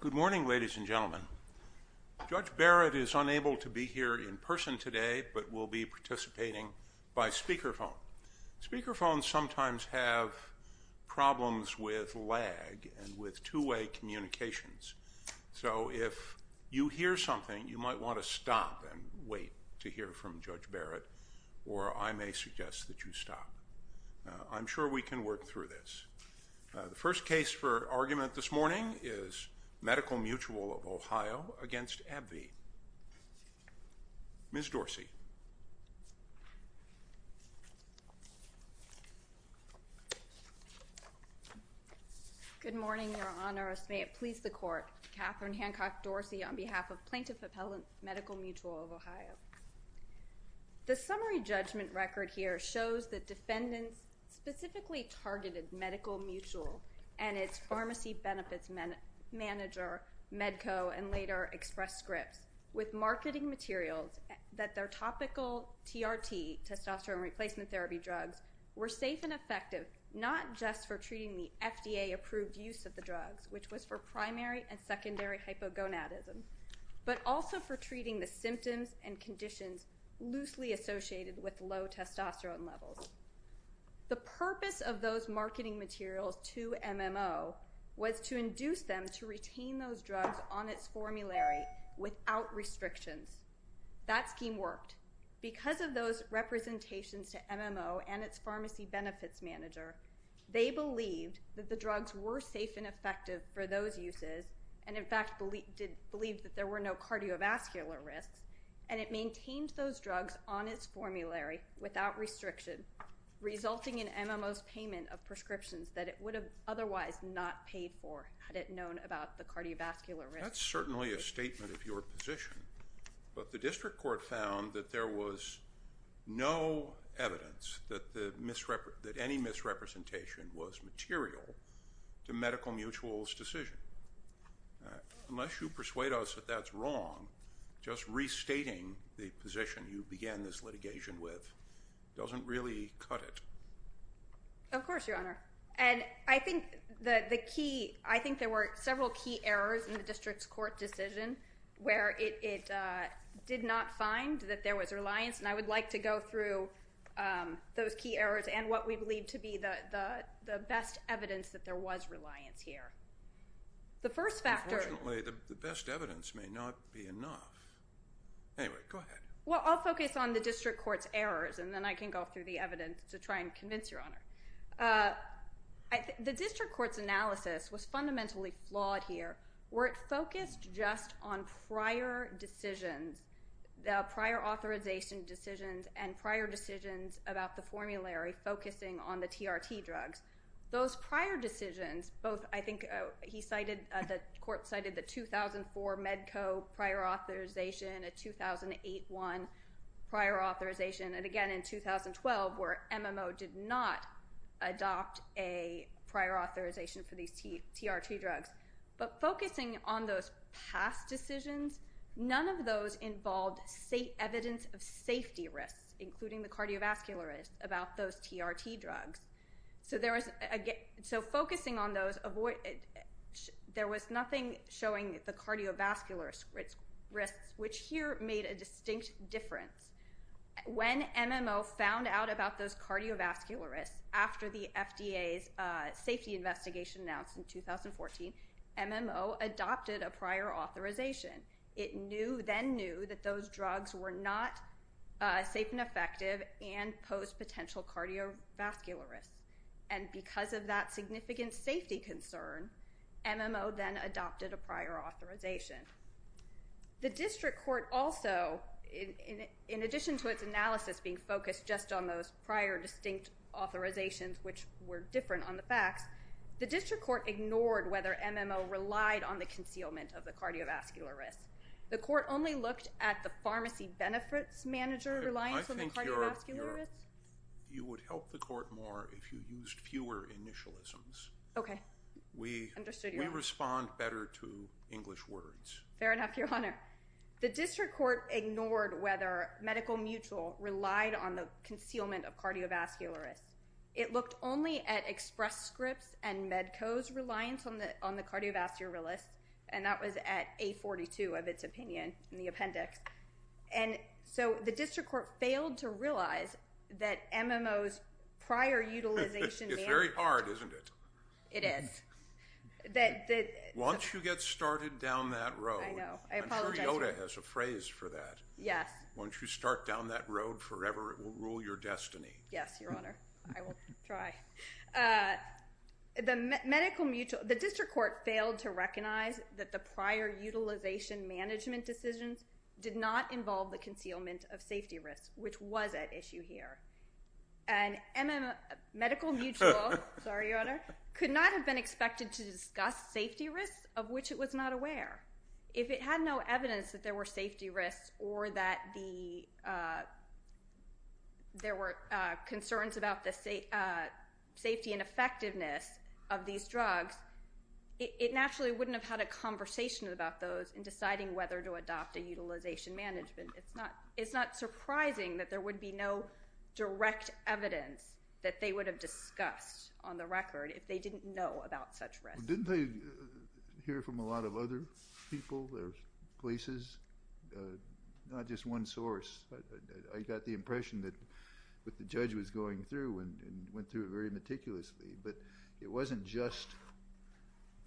Good morning, ladies and gentlemen. Judge Barrett is unable to be here in person today, but will be participating by speakerphone. Speakerphones sometimes have problems with lag and with two-way communications, so if you hear something, you might want to stop and wait to hear from Judge Barrett, or I may suggest that you stop. I'm sure we can work through this. The first case for argument this morning is Medical Mutual of Ohio v. AbbVie. Ms. Dorsey. Good morning, Your Honor. May it please the Court, Katherine Hancock Dorsey on behalf of Plaintiff Appellant Medical Mutual of Ohio. The summary judgment record here shows that defendants specifically targeted Medical Mutual and its pharmacy benefits manager, Medco, and later Express Scripts, with marketing materials that their topical TRT, testosterone replacement therapy drugs, were safe and effective not just for treating the FDA-approved use of the drugs, which was for primary and secondary hypogonadism, but also for treating the symptoms and conditions loosely associated with low testosterone levels. The purpose of those marketing materials to MMO was to induce them to retain those drugs on its formulary without restrictions. That scheme worked. Because of those representations to MMO and its pharmacy benefits manager, they believed that the drugs were safe and effective for those uses and, in fact, believed that there were no cardiovascular risks, and it maintained those drugs on its formulary without restriction, resulting in MMO's payment of prescriptions that it would have otherwise not paid for had it known about the cardiovascular risks. That's certainly a statement of your position. But the district court found that there was no evidence that any misrepresentation was material to Medical Mutual's decision. Unless you persuade us that that's wrong, just restating the position you began this litigation with doesn't really cut it. Of course, Your Honor. And I think there were several key errors in the district's court decision where it did not find that there was reliance, and I would like to go through those key errors and what we believe to be the best evidence that there was reliance here. Unfortunately, the best evidence may not be enough. Anyway, go ahead. Well, I'll focus on the district court's errors, and then I can go through the evidence to try and convince Your Honor. The district court's analysis was fundamentally flawed here where it focused just on prior decisions, prior authorization decisions, and prior decisions about the formulary focusing on the TRT drugs. Those prior decisions, both I think he cited, the court cited the 2004 Medco prior authorization, a 2008 one prior authorization, and again in 2012 where MMO did not adopt a prior authorization for these TRT drugs. But focusing on those past decisions, none of those involved evidence of safety risks, including the cardiovascular risks about those TRT drugs. So focusing on those, there was nothing showing the cardiovascular risks, which here made a distinct difference. When MMO found out about those cardiovascular risks after the FDA's safety investigation announced in 2014, MMO adopted a prior authorization. It then knew that those drugs were not safe and effective and posed potential cardiovascular risks, and because of that significant safety concern, MMO then adopted a prior authorization. The district court also, in addition to its analysis being focused just on those prior distinct authorizations, which were different on the facts, the district court ignored whether MMO relied on the concealment of the cardiovascular risks. The court only looked at the pharmacy benefits manager reliance on the cardiovascular risks. I think you would help the court more if you used fewer initialisms. Okay, understood Your Honor. Can you respond better to English words? Fair enough, Your Honor. The district court ignored whether Medical Mutual relied on the concealment of cardiovascular risks. It looked only at Express Scripts and Medco's reliance on the cardiovascular risks, and that was at A42 of its opinion in the appendix. And so the district court failed to realize that MMO's prior utilization manager… It's very hard, isn't it? It is. Once you get started down that road, I'm sure Yoda has a phrase for that. Yes. Once you start down that road forever, it will rule your destiny. Yes, Your Honor. I will try. The district court failed to recognize that the prior utilization management decisions did not involve the concealment of safety risks, which was at issue here. And Medical Mutual could not have been expected to discuss safety risks of which it was not aware. If it had no evidence that there were safety risks or that there were concerns about the safety and effectiveness of these drugs, it naturally wouldn't have had a conversation about those in deciding whether to adopt a utilization management. It's not surprising that there would be no direct evidence that they would have discussed on the record if they didn't know about such risks. Didn't they hear from a lot of other people or places? Not just one source. I got the impression that the judge was going through and went through it very meticulously, but it wasn't just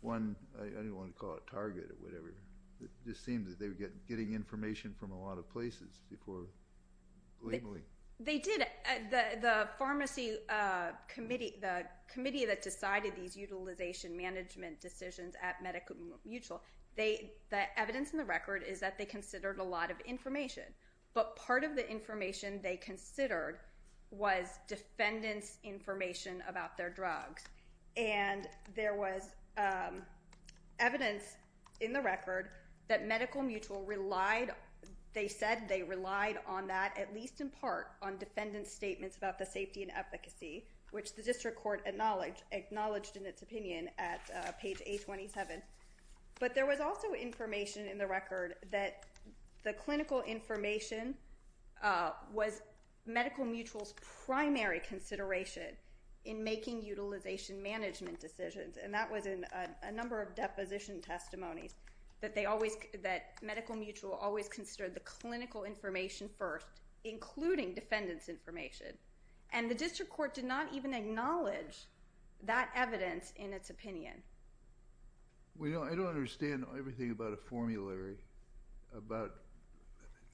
one, I didn't want to call it a target or whatever. It just seemed that they were getting information from a lot of places before labeling. They did. The pharmacy committee, the committee that decided these utilization management decisions at Medical Mutual, the evidence in the record is that they considered a lot of information, but part of the information they considered was defendants' information about their drugs. There was evidence in the record that Medical Mutual said they relied on that, at least in part, on defendants' statements about the safety and efficacy, which the district court acknowledged in its opinion at page 827. But there was also information in the record that the clinical information was Medical Mutual's making utilization management decisions, and that was in a number of deposition testimonies, that Medical Mutual always considered the clinical information first, including defendants' information. And the district court did not even acknowledge that evidence in its opinion. I don't understand everything about a formulary, about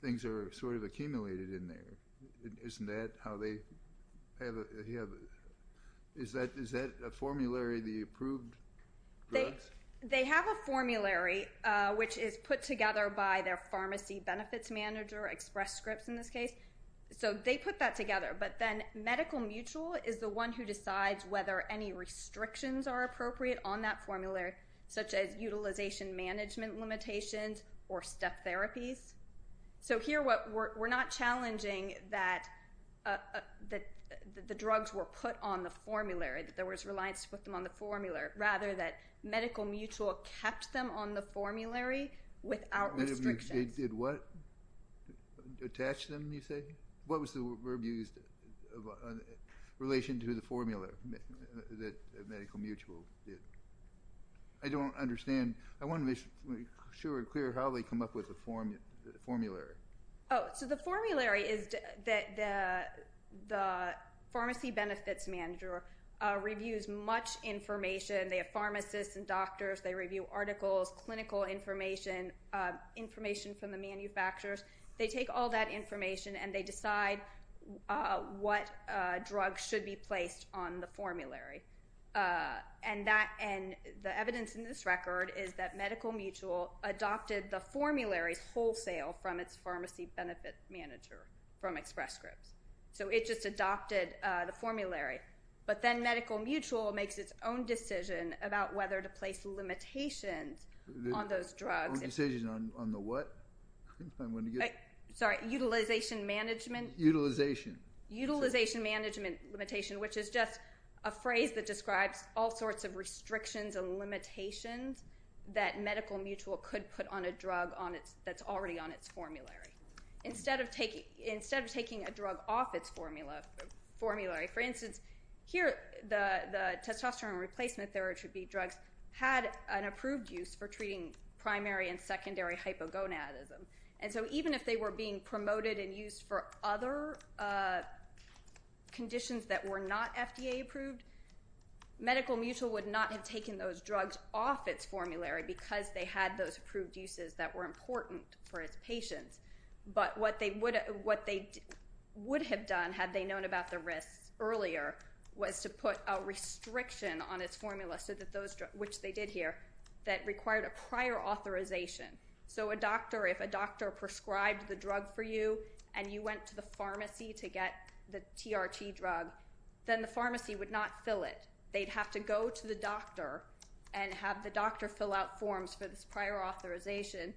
things that are sort of accumulated in there. Isn't that how they have it? Is that a formulary, the approved drugs? They have a formulary, which is put together by their pharmacy benefits manager, Express Scripts in this case. So they put that together. But then Medical Mutual is the one who decides whether any restrictions are appropriate on that formulary, such as utilization management limitations or step therapies. So here we're not challenging that the drugs were put on the formulary, that there was reliance to put them on the formula, rather that Medical Mutual kept them on the formulary without restrictions. They did what? Attach them, you say? What was the verb used in relation to the formula that Medical Mutual did? I don't understand. I want to be sure and clear how they come up with the formulary. So the formulary is that the pharmacy benefits manager reviews much information. They have pharmacists and doctors. They review articles, clinical information, information from the manufacturers. They take all that information, and they decide what drugs should be placed on the formulary. And the evidence in this record is that Medical Mutual adopted the formularies wholesale from its pharmacy benefits manager from Express Scripts. So it just adopted the formulary. But then Medical Mutual makes its own decision about whether to place limitations on those drugs. Decision on the what? Sorry, utilization management. Utilization. Utilization management limitation, which is just a phrase that describes all sorts of restrictions and limitations that Medical Mutual could put on a drug that's already on its formulary. Instead of taking a drug off its formulary, for instance, here the testosterone replacement therapy drugs had an approved use for treating primary and secondary hypogonadism. And so even if they were being promoted and used for other conditions that were not FDA approved, Medical Mutual would not have taken those drugs off its formulary because they had those approved uses that were important for its patients. But what they would have done had they known about the risks earlier was to put a restriction on its formula, which they did here, that required a prior authorization. So a doctor, if a doctor prescribed the drug for you and you went to the pharmacy to get the TRT drug, then the pharmacy would not fill it. They'd have to go to the doctor and have the doctor fill out forms for this prior authorization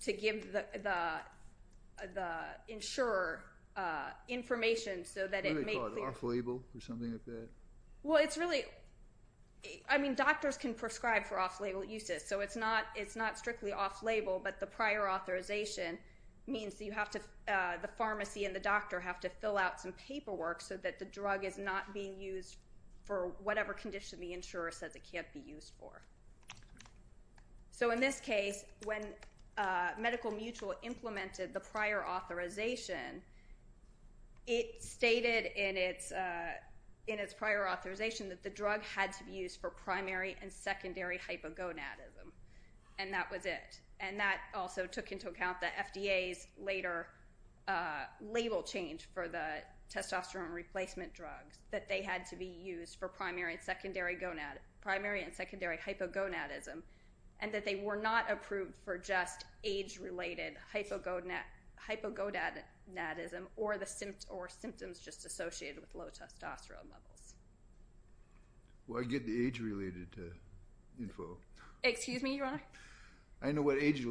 to give the insurer information so that it may clear. What do they call it, off-label or something like that? Well, it's really, I mean doctors can prescribe for off-label uses, so it's not strictly off-label, but the prior authorization means the pharmacy and the doctor have to fill out some paperwork so that the drug is not being used for whatever condition the insurer says it can't be used for. So in this case, when Medical Mutual implemented the prior authorization, it stated in its prior authorization that the drug had to be used for primary and secondary hypogonadism, and that was it. And that also took into account the FDA's later label change for the testosterone replacement drugs, that they had to be used for primary and secondary hypogonadism, and that they were not approved for just age-related hypogonadism or symptoms just associated with low testosterone levels. Well, I get the age-related info. Excuse me, Your Honor? I know what age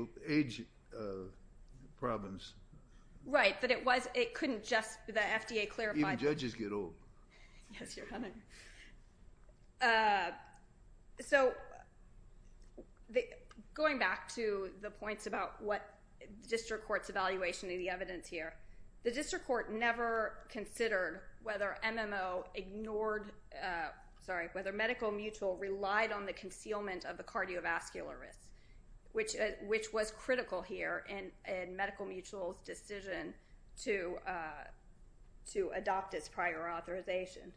problems. Right, but it was, it couldn't just, the FDA clarified. Even judges get old. Yes, Your Honor. So going back to the points about what the district court's evaluation of the evidence here, the district court never considered whether MMO ignored, sorry, whether Medical Mutual relied on the concealment of the cardiovascular risk, which was critical here in Medical Mutual's decision to adopt its prior authorization.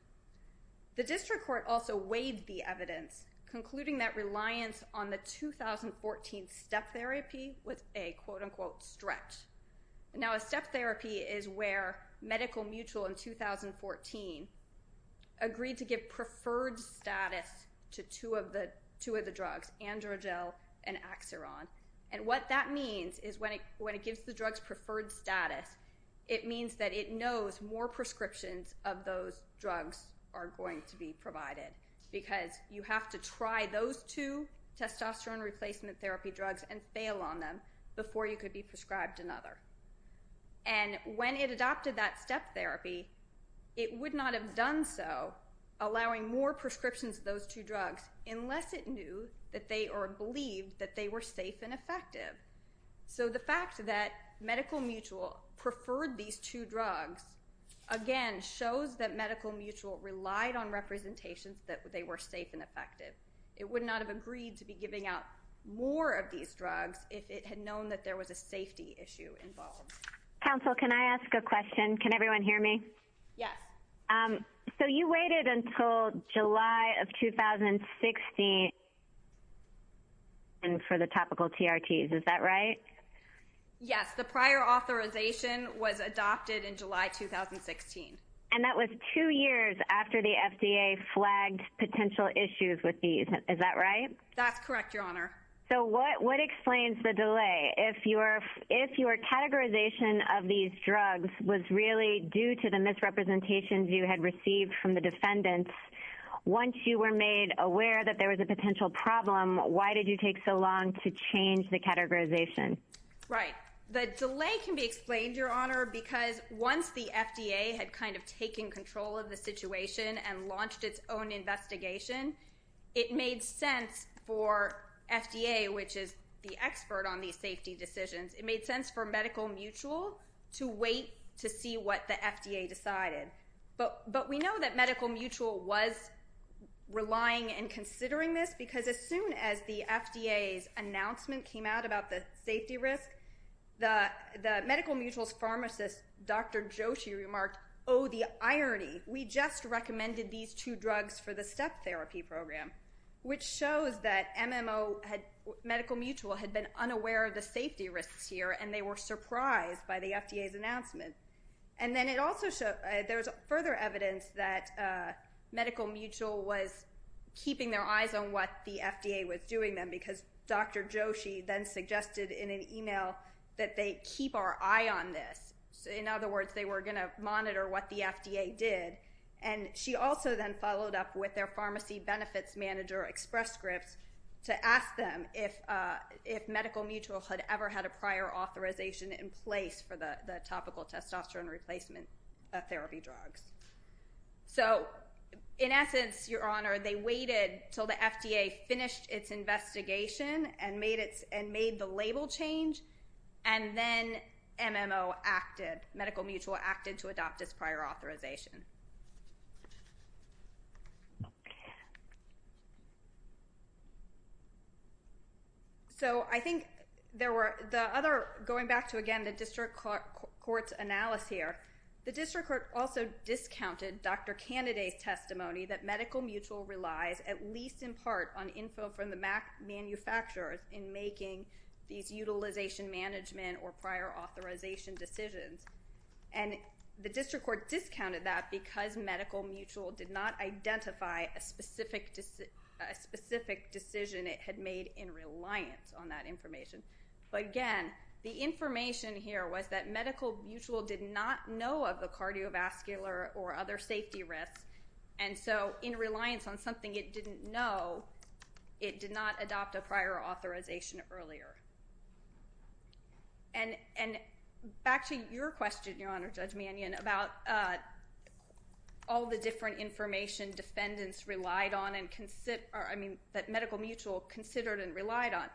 The district court also weighed the evidence, concluding that reliance on the 2014 step therapy was a, quote-unquote, stretch. Now, a step therapy is where Medical Mutual, in 2014, agreed to give preferred status to two of the drugs, Androgel and Axiron, and what that means is when it gives the drugs preferred status, it means that it knows more prescriptions of those drugs are going to be provided because you have to try those two testosterone replacement therapy drugs and fail on them before you could be prescribed another. And when it adopted that step therapy, it would not have done so allowing more prescriptions of those two drugs unless it knew that they or believed that they were safe and effective. So the fact that Medical Mutual preferred these two drugs, again, shows that Medical Mutual relied on representations that they were safe and effective. It would not have agreed to be giving out more of these drugs if it had known that there was a safety issue involved. Counsel, can I ask a question? Can everyone hear me? Yes. So you waited until July of 2016 for the topical TRTs, is that right? Yes, the prior authorization was adopted in July 2016. And that was two years after the FDA flagged potential issues with these, is that right? That's correct, Your Honor. So what explains the delay? If your categorization of these drugs was really due to the misrepresentations you had received from the defendants, once you were made aware that there was a potential problem, why did you take so long to change the categorization? Right. The delay can be explained, Your Honor, because once the FDA had kind of taken control of the situation and launched its own investigation, it made sense for FDA, which is the expert on these safety decisions, it made sense for Medical Mutual to wait to see what the FDA decided. But we know that Medical Mutual was relying and considering this The Medical Mutual's pharmacist, Dr. Joshi, remarked, Oh, the irony. We just recommended these two drugs for the step therapy program, which shows that Medical Mutual had been unaware of the safety risks here and they were surprised by the FDA's announcement. And then there's further evidence that Medical Mutual was keeping their eyes on what the FDA was doing then because Dr. Joshi then suggested in an email that they keep our eye on this. In other words, they were going to monitor what the FDA did. And she also then followed up with their pharmacy benefits manager, Express Scripts, to ask them if Medical Mutual had ever had a prior authorization in place for the topical testosterone replacement therapy drugs. So in essence, Your Honor, they waited until the FDA finished its investigation and made the label change, and then MMO acted, Medical Mutual acted to adopt its prior authorization. So I think there were the other, going back to, again, the district court's analysis here, the district court also discounted Dr. Candidate's testimony that Medical Mutual relies at least in part on info from the manufacturers in making these utilization management or prior authorization decisions. And the district court discounted that because Medical Mutual did not identify a specific decision it had made in reliance on that information. But again, the information here was that Medical Mutual did not know of the cardiovascular or other safety risks, and so in reliance on something it didn't know, it did not adopt a prior authorization earlier. And back to your question, Your Honor, Judge Mannion, about all the different information defendants relied on and considered, I mean, that Medical Mutual considered and relied on,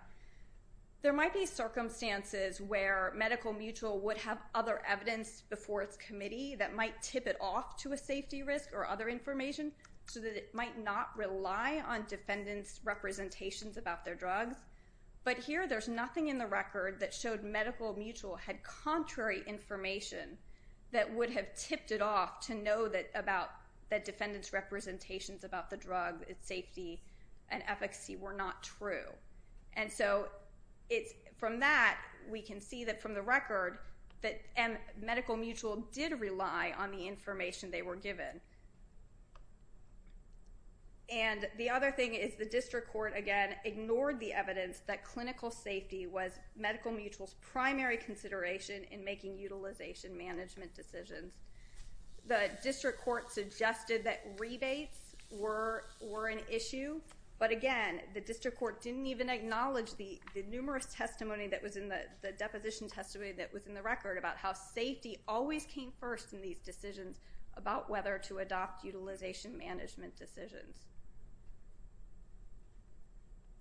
there might be circumstances where Medical Mutual would have other evidence before its committee that might tip it off to a safety risk or other information so that it might not rely on defendants' representations about their drugs. But here there's nothing in the record that showed Medical Mutual had contrary information that would have tipped it off to know that defendants' representations about the drug, its safety, and efficacy were not true. And so from that we can see that from the record that Medical Mutual did rely on the information they were given. And the other thing is the district court, again, ignored the evidence that clinical safety was Medical Mutual's primary consideration in making utilization management decisions. The district court suggested that rebates were an issue, but again, the district court didn't even acknowledge the numerous testimony that was in the deposition testimony that was in the record about how safety always came first in these decisions about whether to adopt utilization management decisions.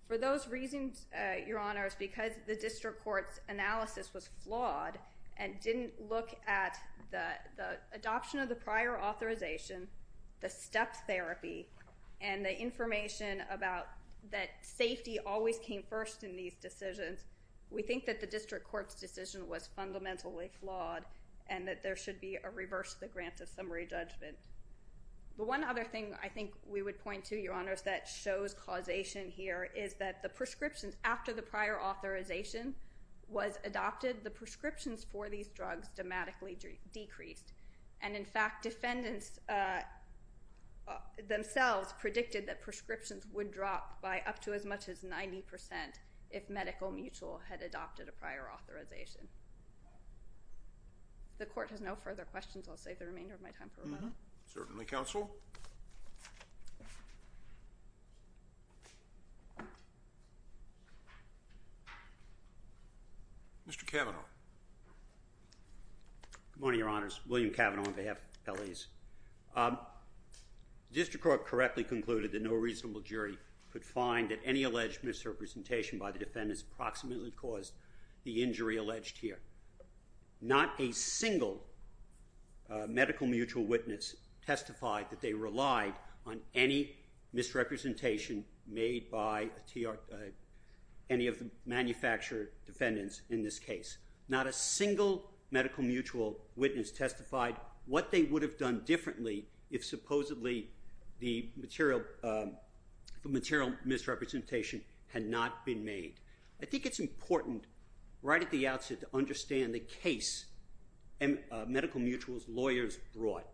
For those reasons, Your Honors, because the district court's analysis was flawed and didn't look at the adoption of the prior authorization, the step therapy, and the information about that safety always came first in these decisions, we think that the district court's decision was fundamentally flawed and that there should be a reverse of the grant of summary judgment. But one other thing I think we would point to, Your Honors, that shows causation here is that the prescriptions after the prior authorization was adopted, the prescriptions for these drugs dramatically decreased. And in fact, defendants themselves predicted that prescriptions would drop by up to as much as 90% if Medical Mutual had adopted a prior authorization. If the court has no further questions, I'll save the remainder of my time for rebuttal. Certainly, counsel. Mr. Cavanaugh. Good morning, Your Honors. William Cavanaugh on behalf of L.A.'s. The district court correctly concluded that no reasonable jury could find that any alleged misrepresentation by the defendants approximately caused the injury alleged here. Not a single Medical Mutual witness testified that they relied on any misrepresentation made by any of the manufacturer defendants in this case. Not a single Medical Mutual witness testified what they would have done differently if supposedly the material misrepresentation had not been made. I think it's important right at the outset to understand the case Medical Mutual's lawyers brought.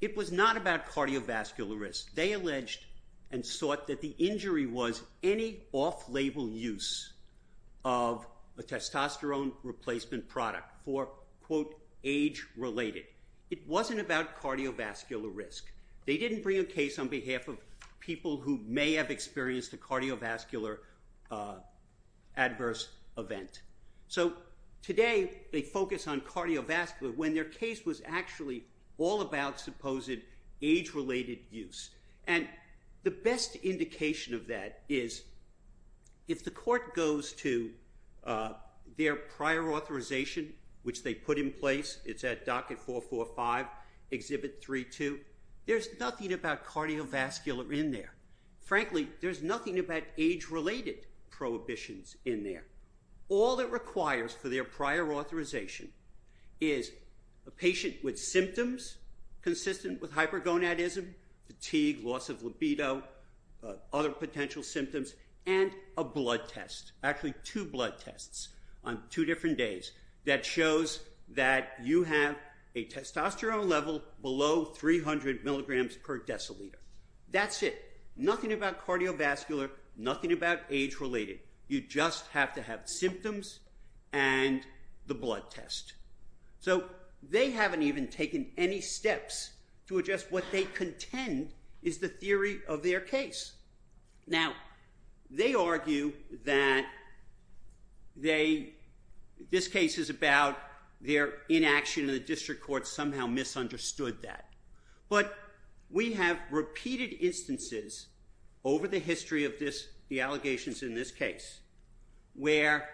It was not about cardiovascular risk. They alleged and sought that the injury was any off-label use of a testosterone replacement product for, quote, age-related. It wasn't about cardiovascular risk. They didn't bring a case on behalf of people who may have experienced a cardiovascular adverse event. So today, they focus on cardiovascular when their case was actually all about supposed age-related use. And the best indication of that is if the court goes to their prior authorization, which they put in place, it's at Docket 445, Exhibit 3-2, there's nothing about cardiovascular in there. Frankly, there's nothing about age-related prohibitions in there. All it requires for their prior authorization is a patient with symptoms consistent with hypergonadism, fatigue, loss of libido, other potential symptoms, and a blood test. Actually, two blood tests on two different days that shows that you have a testosterone level below 300 mg per deciliter. That's it. Nothing about cardiovascular, nothing about age-related. You just have to have symptoms and the blood test. So they haven't even taken any steps to adjust what they contend is the theory of their case. Now, they argue that this case is about their inaction, and the district court somehow misunderstood that. But we have repeated instances over the history of the allegations in this case where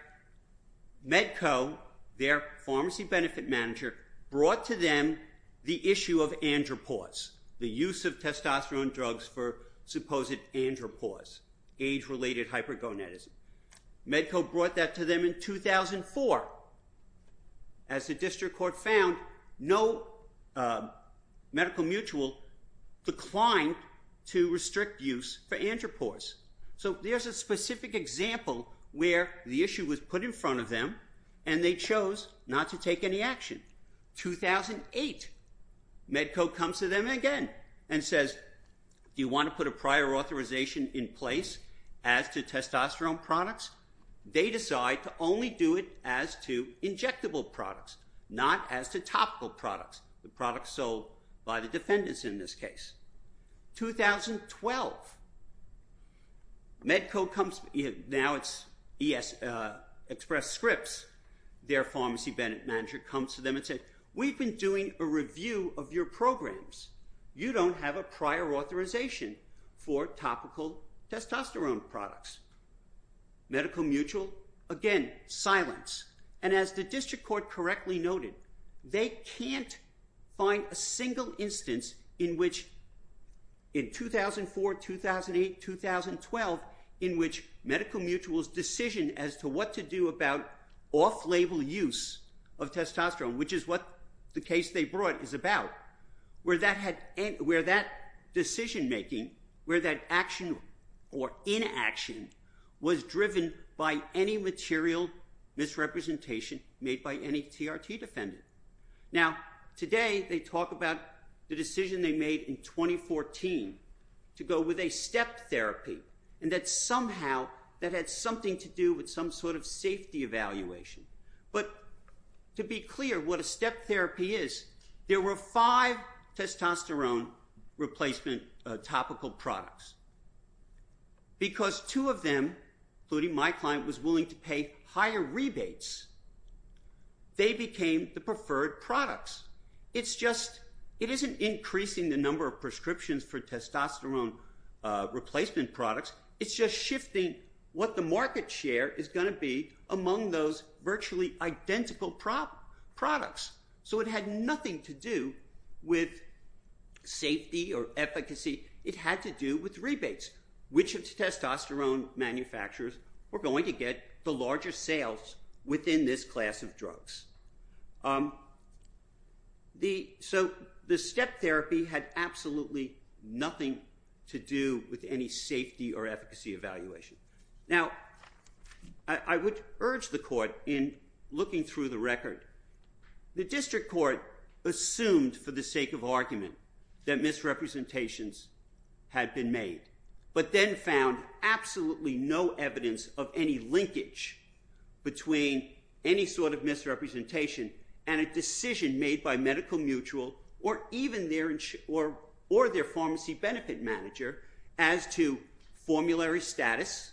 Medco, their pharmacy benefit manager, brought to them the issue of andropause, the use of testosterone drugs for supposed andropause, age-related hypergonadism. Medco brought that to them in 2004. As the district court found, no medical mutual declined to restrict use for andropause. So there's a specific example where the issue was put in front of them, and they chose not to take any action. 2008, Medco comes to them again and says, do you want to put a prior authorization in place as to testosterone products? They decide to only do it as to injectable products, not as to topical products, the products sold by the defendants in this case. 2012, Medco comes, now it's Express Scripts, their pharmacy benefit manager comes to them and says, we've been doing a review of your programs. You don't have a prior authorization for topical testosterone products. Medical mutual, again, silence. And as the district court correctly noted, they can't find a single instance in which in 2004, 2008, 2012, in which medical mutual's decision as to what to do about off-label use of testosterone, which is what the case they brought is about, where that decision-making, where that action or inaction was driven by any material misrepresentation made by any TRT defendant. Now, today they talk about the decision they made in 2014 to go with a step therapy, and that somehow that had something to do with some sort of safety evaluation. But to be clear, what a step therapy is, there were five testosterone replacement topical products. Because two of them, including my client, was willing to pay higher rebates, they became the preferred products. It's just, it isn't increasing the number of prescriptions for testosterone replacement products, it's just shifting what the market share is going to be among those virtually identical products. So it had nothing to do with safety or efficacy, it had to do with rebates, which of the testosterone manufacturers were going to get the largest sales within this class of drugs. So the step therapy had absolutely nothing to do with any safety or efficacy evaluation. Now, I would urge the court in looking through the record, the district court assumed for the sake of argument that misrepresentations had been made, but then found absolutely no evidence of any linkage between any sort of misrepresentation and a decision made by Medical Mutual or even their pharmacy benefit manager as to formulary status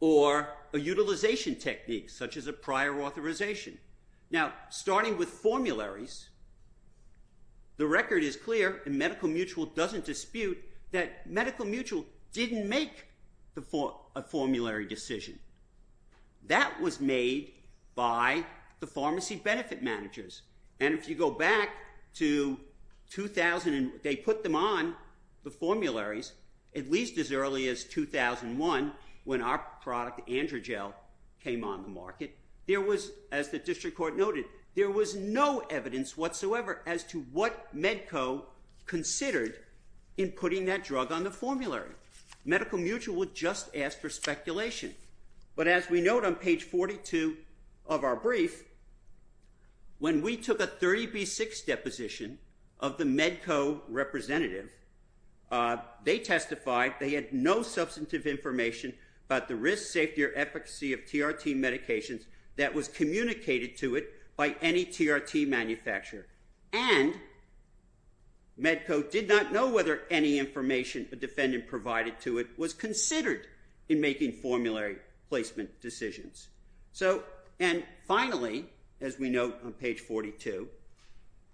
or a utilization technique, such as a prior authorization. Now, starting with formularies, the record is clear, and Medical Mutual doesn't dispute that Medical Mutual didn't make a formulary decision. That was made by the pharmacy benefit managers. And if you go back to 2000 and they put them on the formularies, at least as early as 2001, when our product, Androgel, came on the market, as the district court noted, there was no evidence whatsoever as to what Medco considered in putting that drug on the formulary. Medical Mutual would just ask for speculation. But as we note on page 42 of our brief, when we took a 30B6 deposition of the Medco representative, they testified they had no substantive information about the risk, safety, or efficacy of TRT medications that was communicated to it by any TRT manufacturer. And Medco did not know whether any information a defendant provided to it was considered in making formulary placement decisions. And finally, as we note on page 42,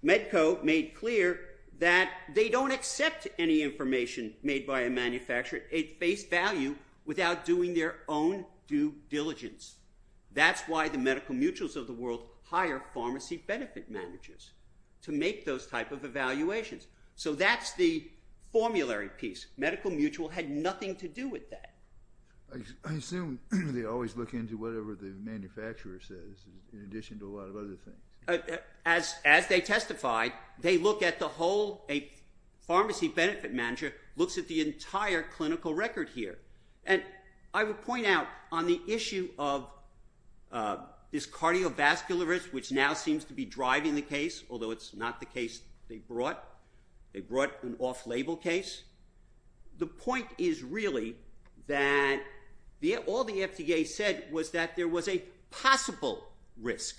Medco made clear that they don't accept any information made by a manufacturer at face value without doing their own due diligence. That's why the Medical Mutuals of the world hire pharmacy benefit managers to make those type of evaluations. So that's the formulary piece. Medical Mutual had nothing to do with that. I assume they always look into whatever the manufacturer says in addition to a lot of other things. As they testified, they look at the whole pharmacy benefit manager looks at the entire clinical record here. And I would point out on the issue of this cardiovascular risk, which now seems to be driving the case, although it's not the case they brought, they brought an off-label case. The point is really that all the FDA said was that there was a possible risk.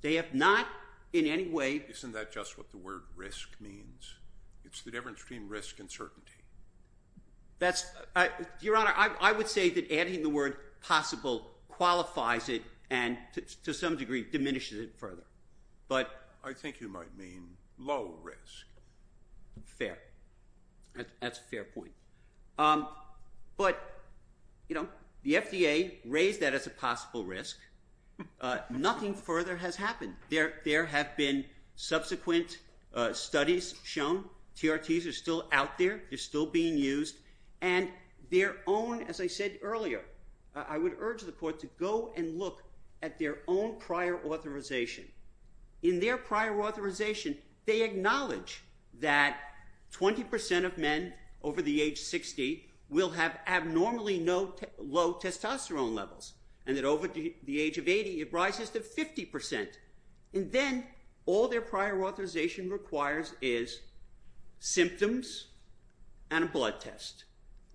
They have not in any way... Isn't that just what the word risk means? It's the difference between risk and certainty. Your Honor, I would say that adding the word possible qualifies it and to some degree diminishes it further. I think you might mean low risk. Fair. That's a fair point. But the FDA raised that as a possible risk. Nothing further has happened. There have been subsequent studies shown. TRTs are still out there. They're still being used. And their own, as I said earlier, I would urge the Court to go and look at their own prior authorization. In their prior authorization, they acknowledge that 20% of men over the age of 60 will have abnormally low testosterone levels and that over the age of 80 it rises to 50%. And then all their prior authorization requires is symptoms and a blood test.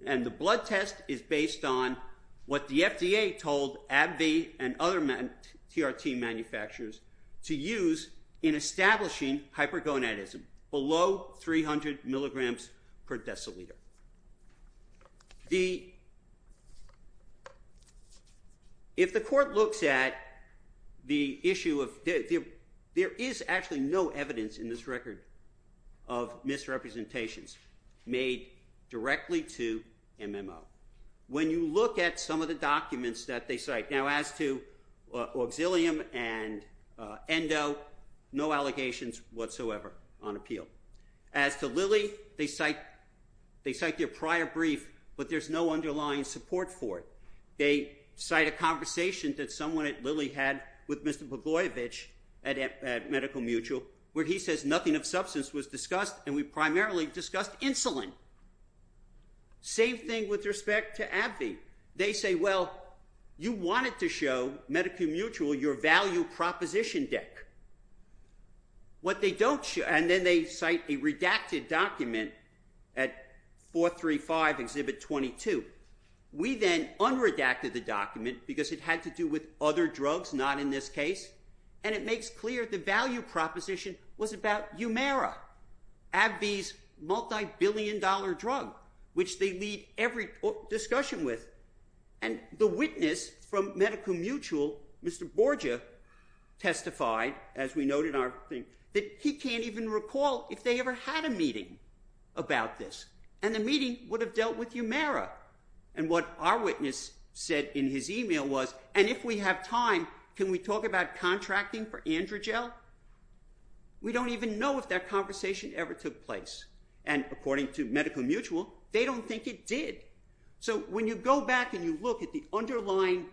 And the blood test is based on what the FDA told AbbVie and other TRT manufacturers to use in establishing hypergonadism, below 300 milligrams per deciliter. If the Court looks at the issue of... There is actually no evidence in this record of misrepresentations made directly to MMO. When you look at some of the documents that they cite, now as to Auxilium and Endo, no allegations whatsoever on appeal. As to Lilly, they cite their prior brief, but there's no underlying support for it. They cite a conversation that someone at Lilly had with Mr. Bogoyevich at Medical Mutual where he says nothing of substance was discussed and we primarily discussed insulin. Same thing with respect to AbbVie. They say, well, you wanted to show Medical Mutual your value proposition deck. What they don't show... And then they cite a redacted document at 435 Exhibit 22. We then unredacted the document because it had to do with other drugs, not in this case, and it makes clear the value proposition was about Umera, AbbVie's multibillion-dollar drug, which they lead every discussion with. And the witness from Medical Mutual, Mr. Borgia, testified, as we note in our thing, that he can't even recall if they ever had a meeting about this. And the meeting would have dealt with Umera. And what our witness said in his email was, and if we have time, can we talk about contracting for Androgel? We don't even know if that conversation ever took place. And according to Medical Mutual, they don't think it did. So when you go back and you look at the underlying,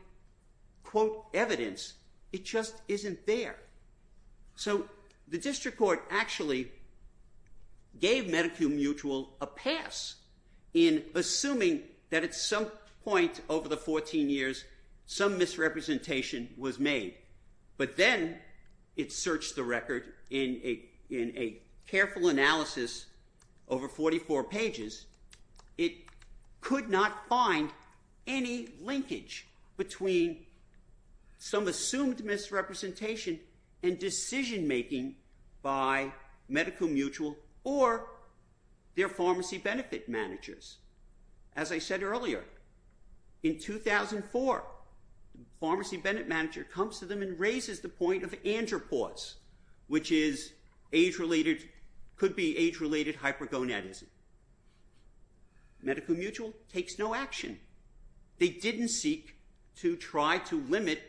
quote, evidence, it just isn't there. So the district court actually gave Medical Mutual a pass in assuming that at some point over the 14 years, some misrepresentation was made. But then it searched the record in a careful analysis over 44 pages. It could not find any linkage between some assumed misrepresentation and decision-making by Medical Mutual or their pharmacy benefit managers. As I said earlier, in 2004, the pharmacy benefit manager comes to them and raises the point of andropause, which could be age-related hypergonadism. Medical Mutual takes no action. They didn't seek to try to limit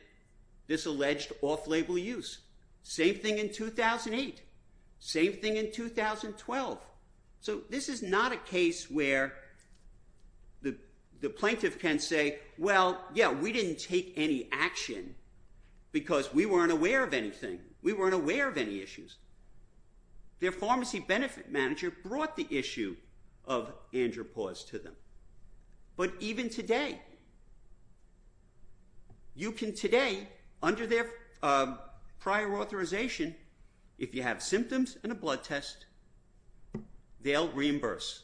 this alleged off-label use. Same thing in 2008. Same thing in 2012. So this is not a case where the plaintiff can say, well, yeah, we didn't take any action because we weren't aware of anything. We weren't aware of any issues. Their pharmacy benefit manager brought the issue of andropause to them. But even today, you can today, under their prior authorization, if you have symptoms and a blood test, they'll reimburse.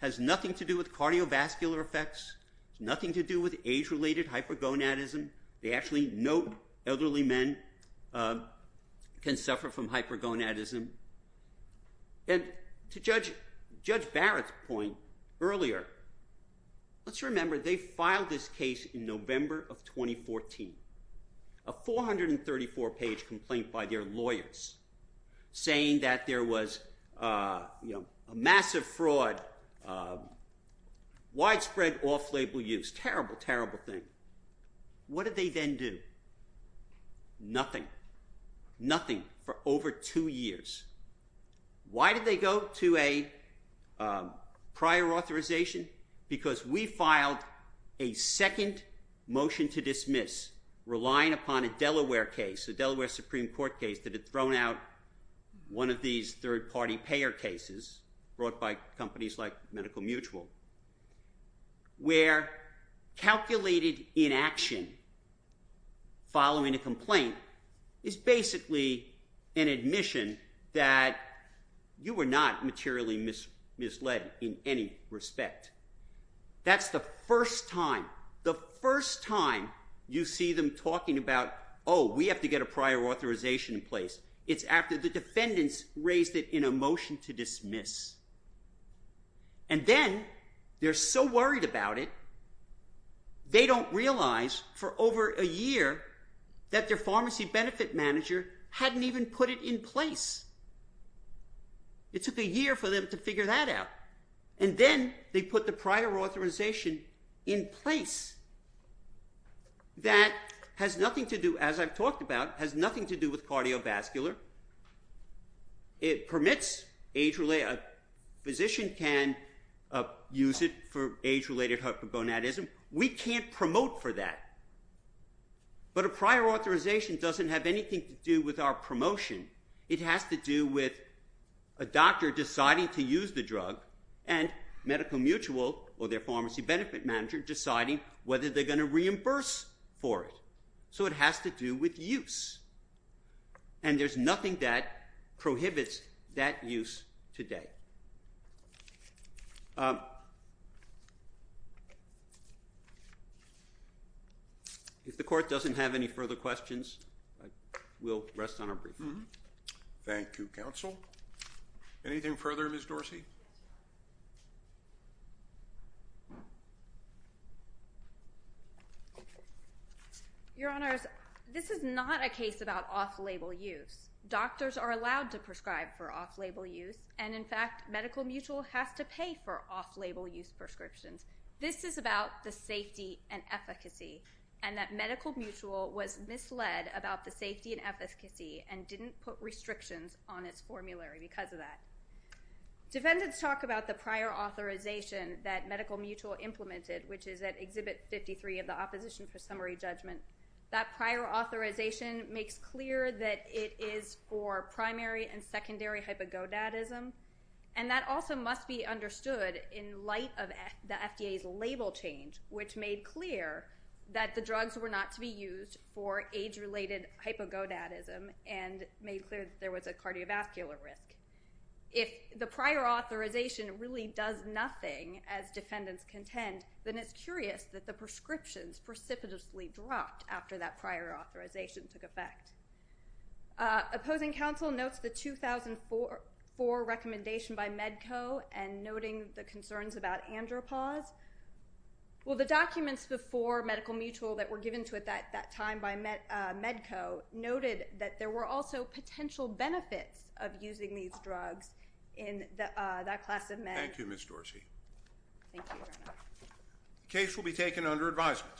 It has nothing to do with cardiovascular effects. It has nothing to do with age-related hypergonadism. They actually know elderly men can suffer from hypergonadism. And to Judge Barrett's point earlier, let's remember they filed this case in November of 2014, a 434-page complaint by their lawyers saying that there was a massive fraud, widespread off-label use. Terrible, terrible thing. What did they then do? Nothing. Nothing for over two years. Why did they go to a prior authorization? Because we filed a second motion to dismiss, relying upon a Delaware case, that had thrown out one of these third-party payer cases brought by companies like Medical Mutual, where calculated inaction following a complaint is basically an admission that you were not materially misled in any respect. That's the first time, the first time you see them talking about, oh, we have to get a prior authorization in place. It's after the defendants raised it in a motion to dismiss. And then they're so worried about it, they don't realize for over a year that their pharmacy benefit manager hadn't even put it in place. It took a year for them to figure that out. And then they put the prior authorization in place. That has nothing to do, as I've talked about, has nothing to do with cardiovascular. It permits age-related... A physician can use it for age-related hypogonadism. We can't promote for that. But a prior authorization doesn't have anything to do with our promotion. It has to do with a doctor deciding to use the drug and Medical Mutual or their pharmacy benefit manager deciding whether they're going to reimburse for it. So it has to do with use. And there's nothing that prohibits that use today. If the court doesn't have any further questions, we'll rest on our brief. Thank you, counsel. Anything further, Ms. Dorsey? Your Honors, this is not a case about off-label use. Doctors are allowed to prescribe for off-label use, and in fact Medical Mutual has to pay for off-label use prescriptions. This is about the safety and efficacy, and that Medical Mutual was misled about the safety and efficacy and didn't put restrictions on its formulary because of that. Defendants talk about the prior authorization that Medical Mutual implemented, which is at Exhibit 53 of the Opposition for Summary Judgment. That prior authorization makes clear that it is for primary and secondary hypogodadism, and that also must be understood in light of the FDA's label change, which made clear that the drugs were not to be used for age-related hypogodadism and made clear that there was a cardiovascular risk. If the prior authorization really does nothing, as defendants contend, then it's curious that the prescriptions precipitously dropped after that prior authorization took effect. Opposing counsel notes the 2004 recommendation by Medco and noting the concerns about andropause. Well, the documents before Medical Mutual that were given to it at that time by Medco noted that there were also potential benefits of using these drugs in that class of men. Thank you, Ms. Dorsey. Thank you, Your Honor. The case will be taken under advisement.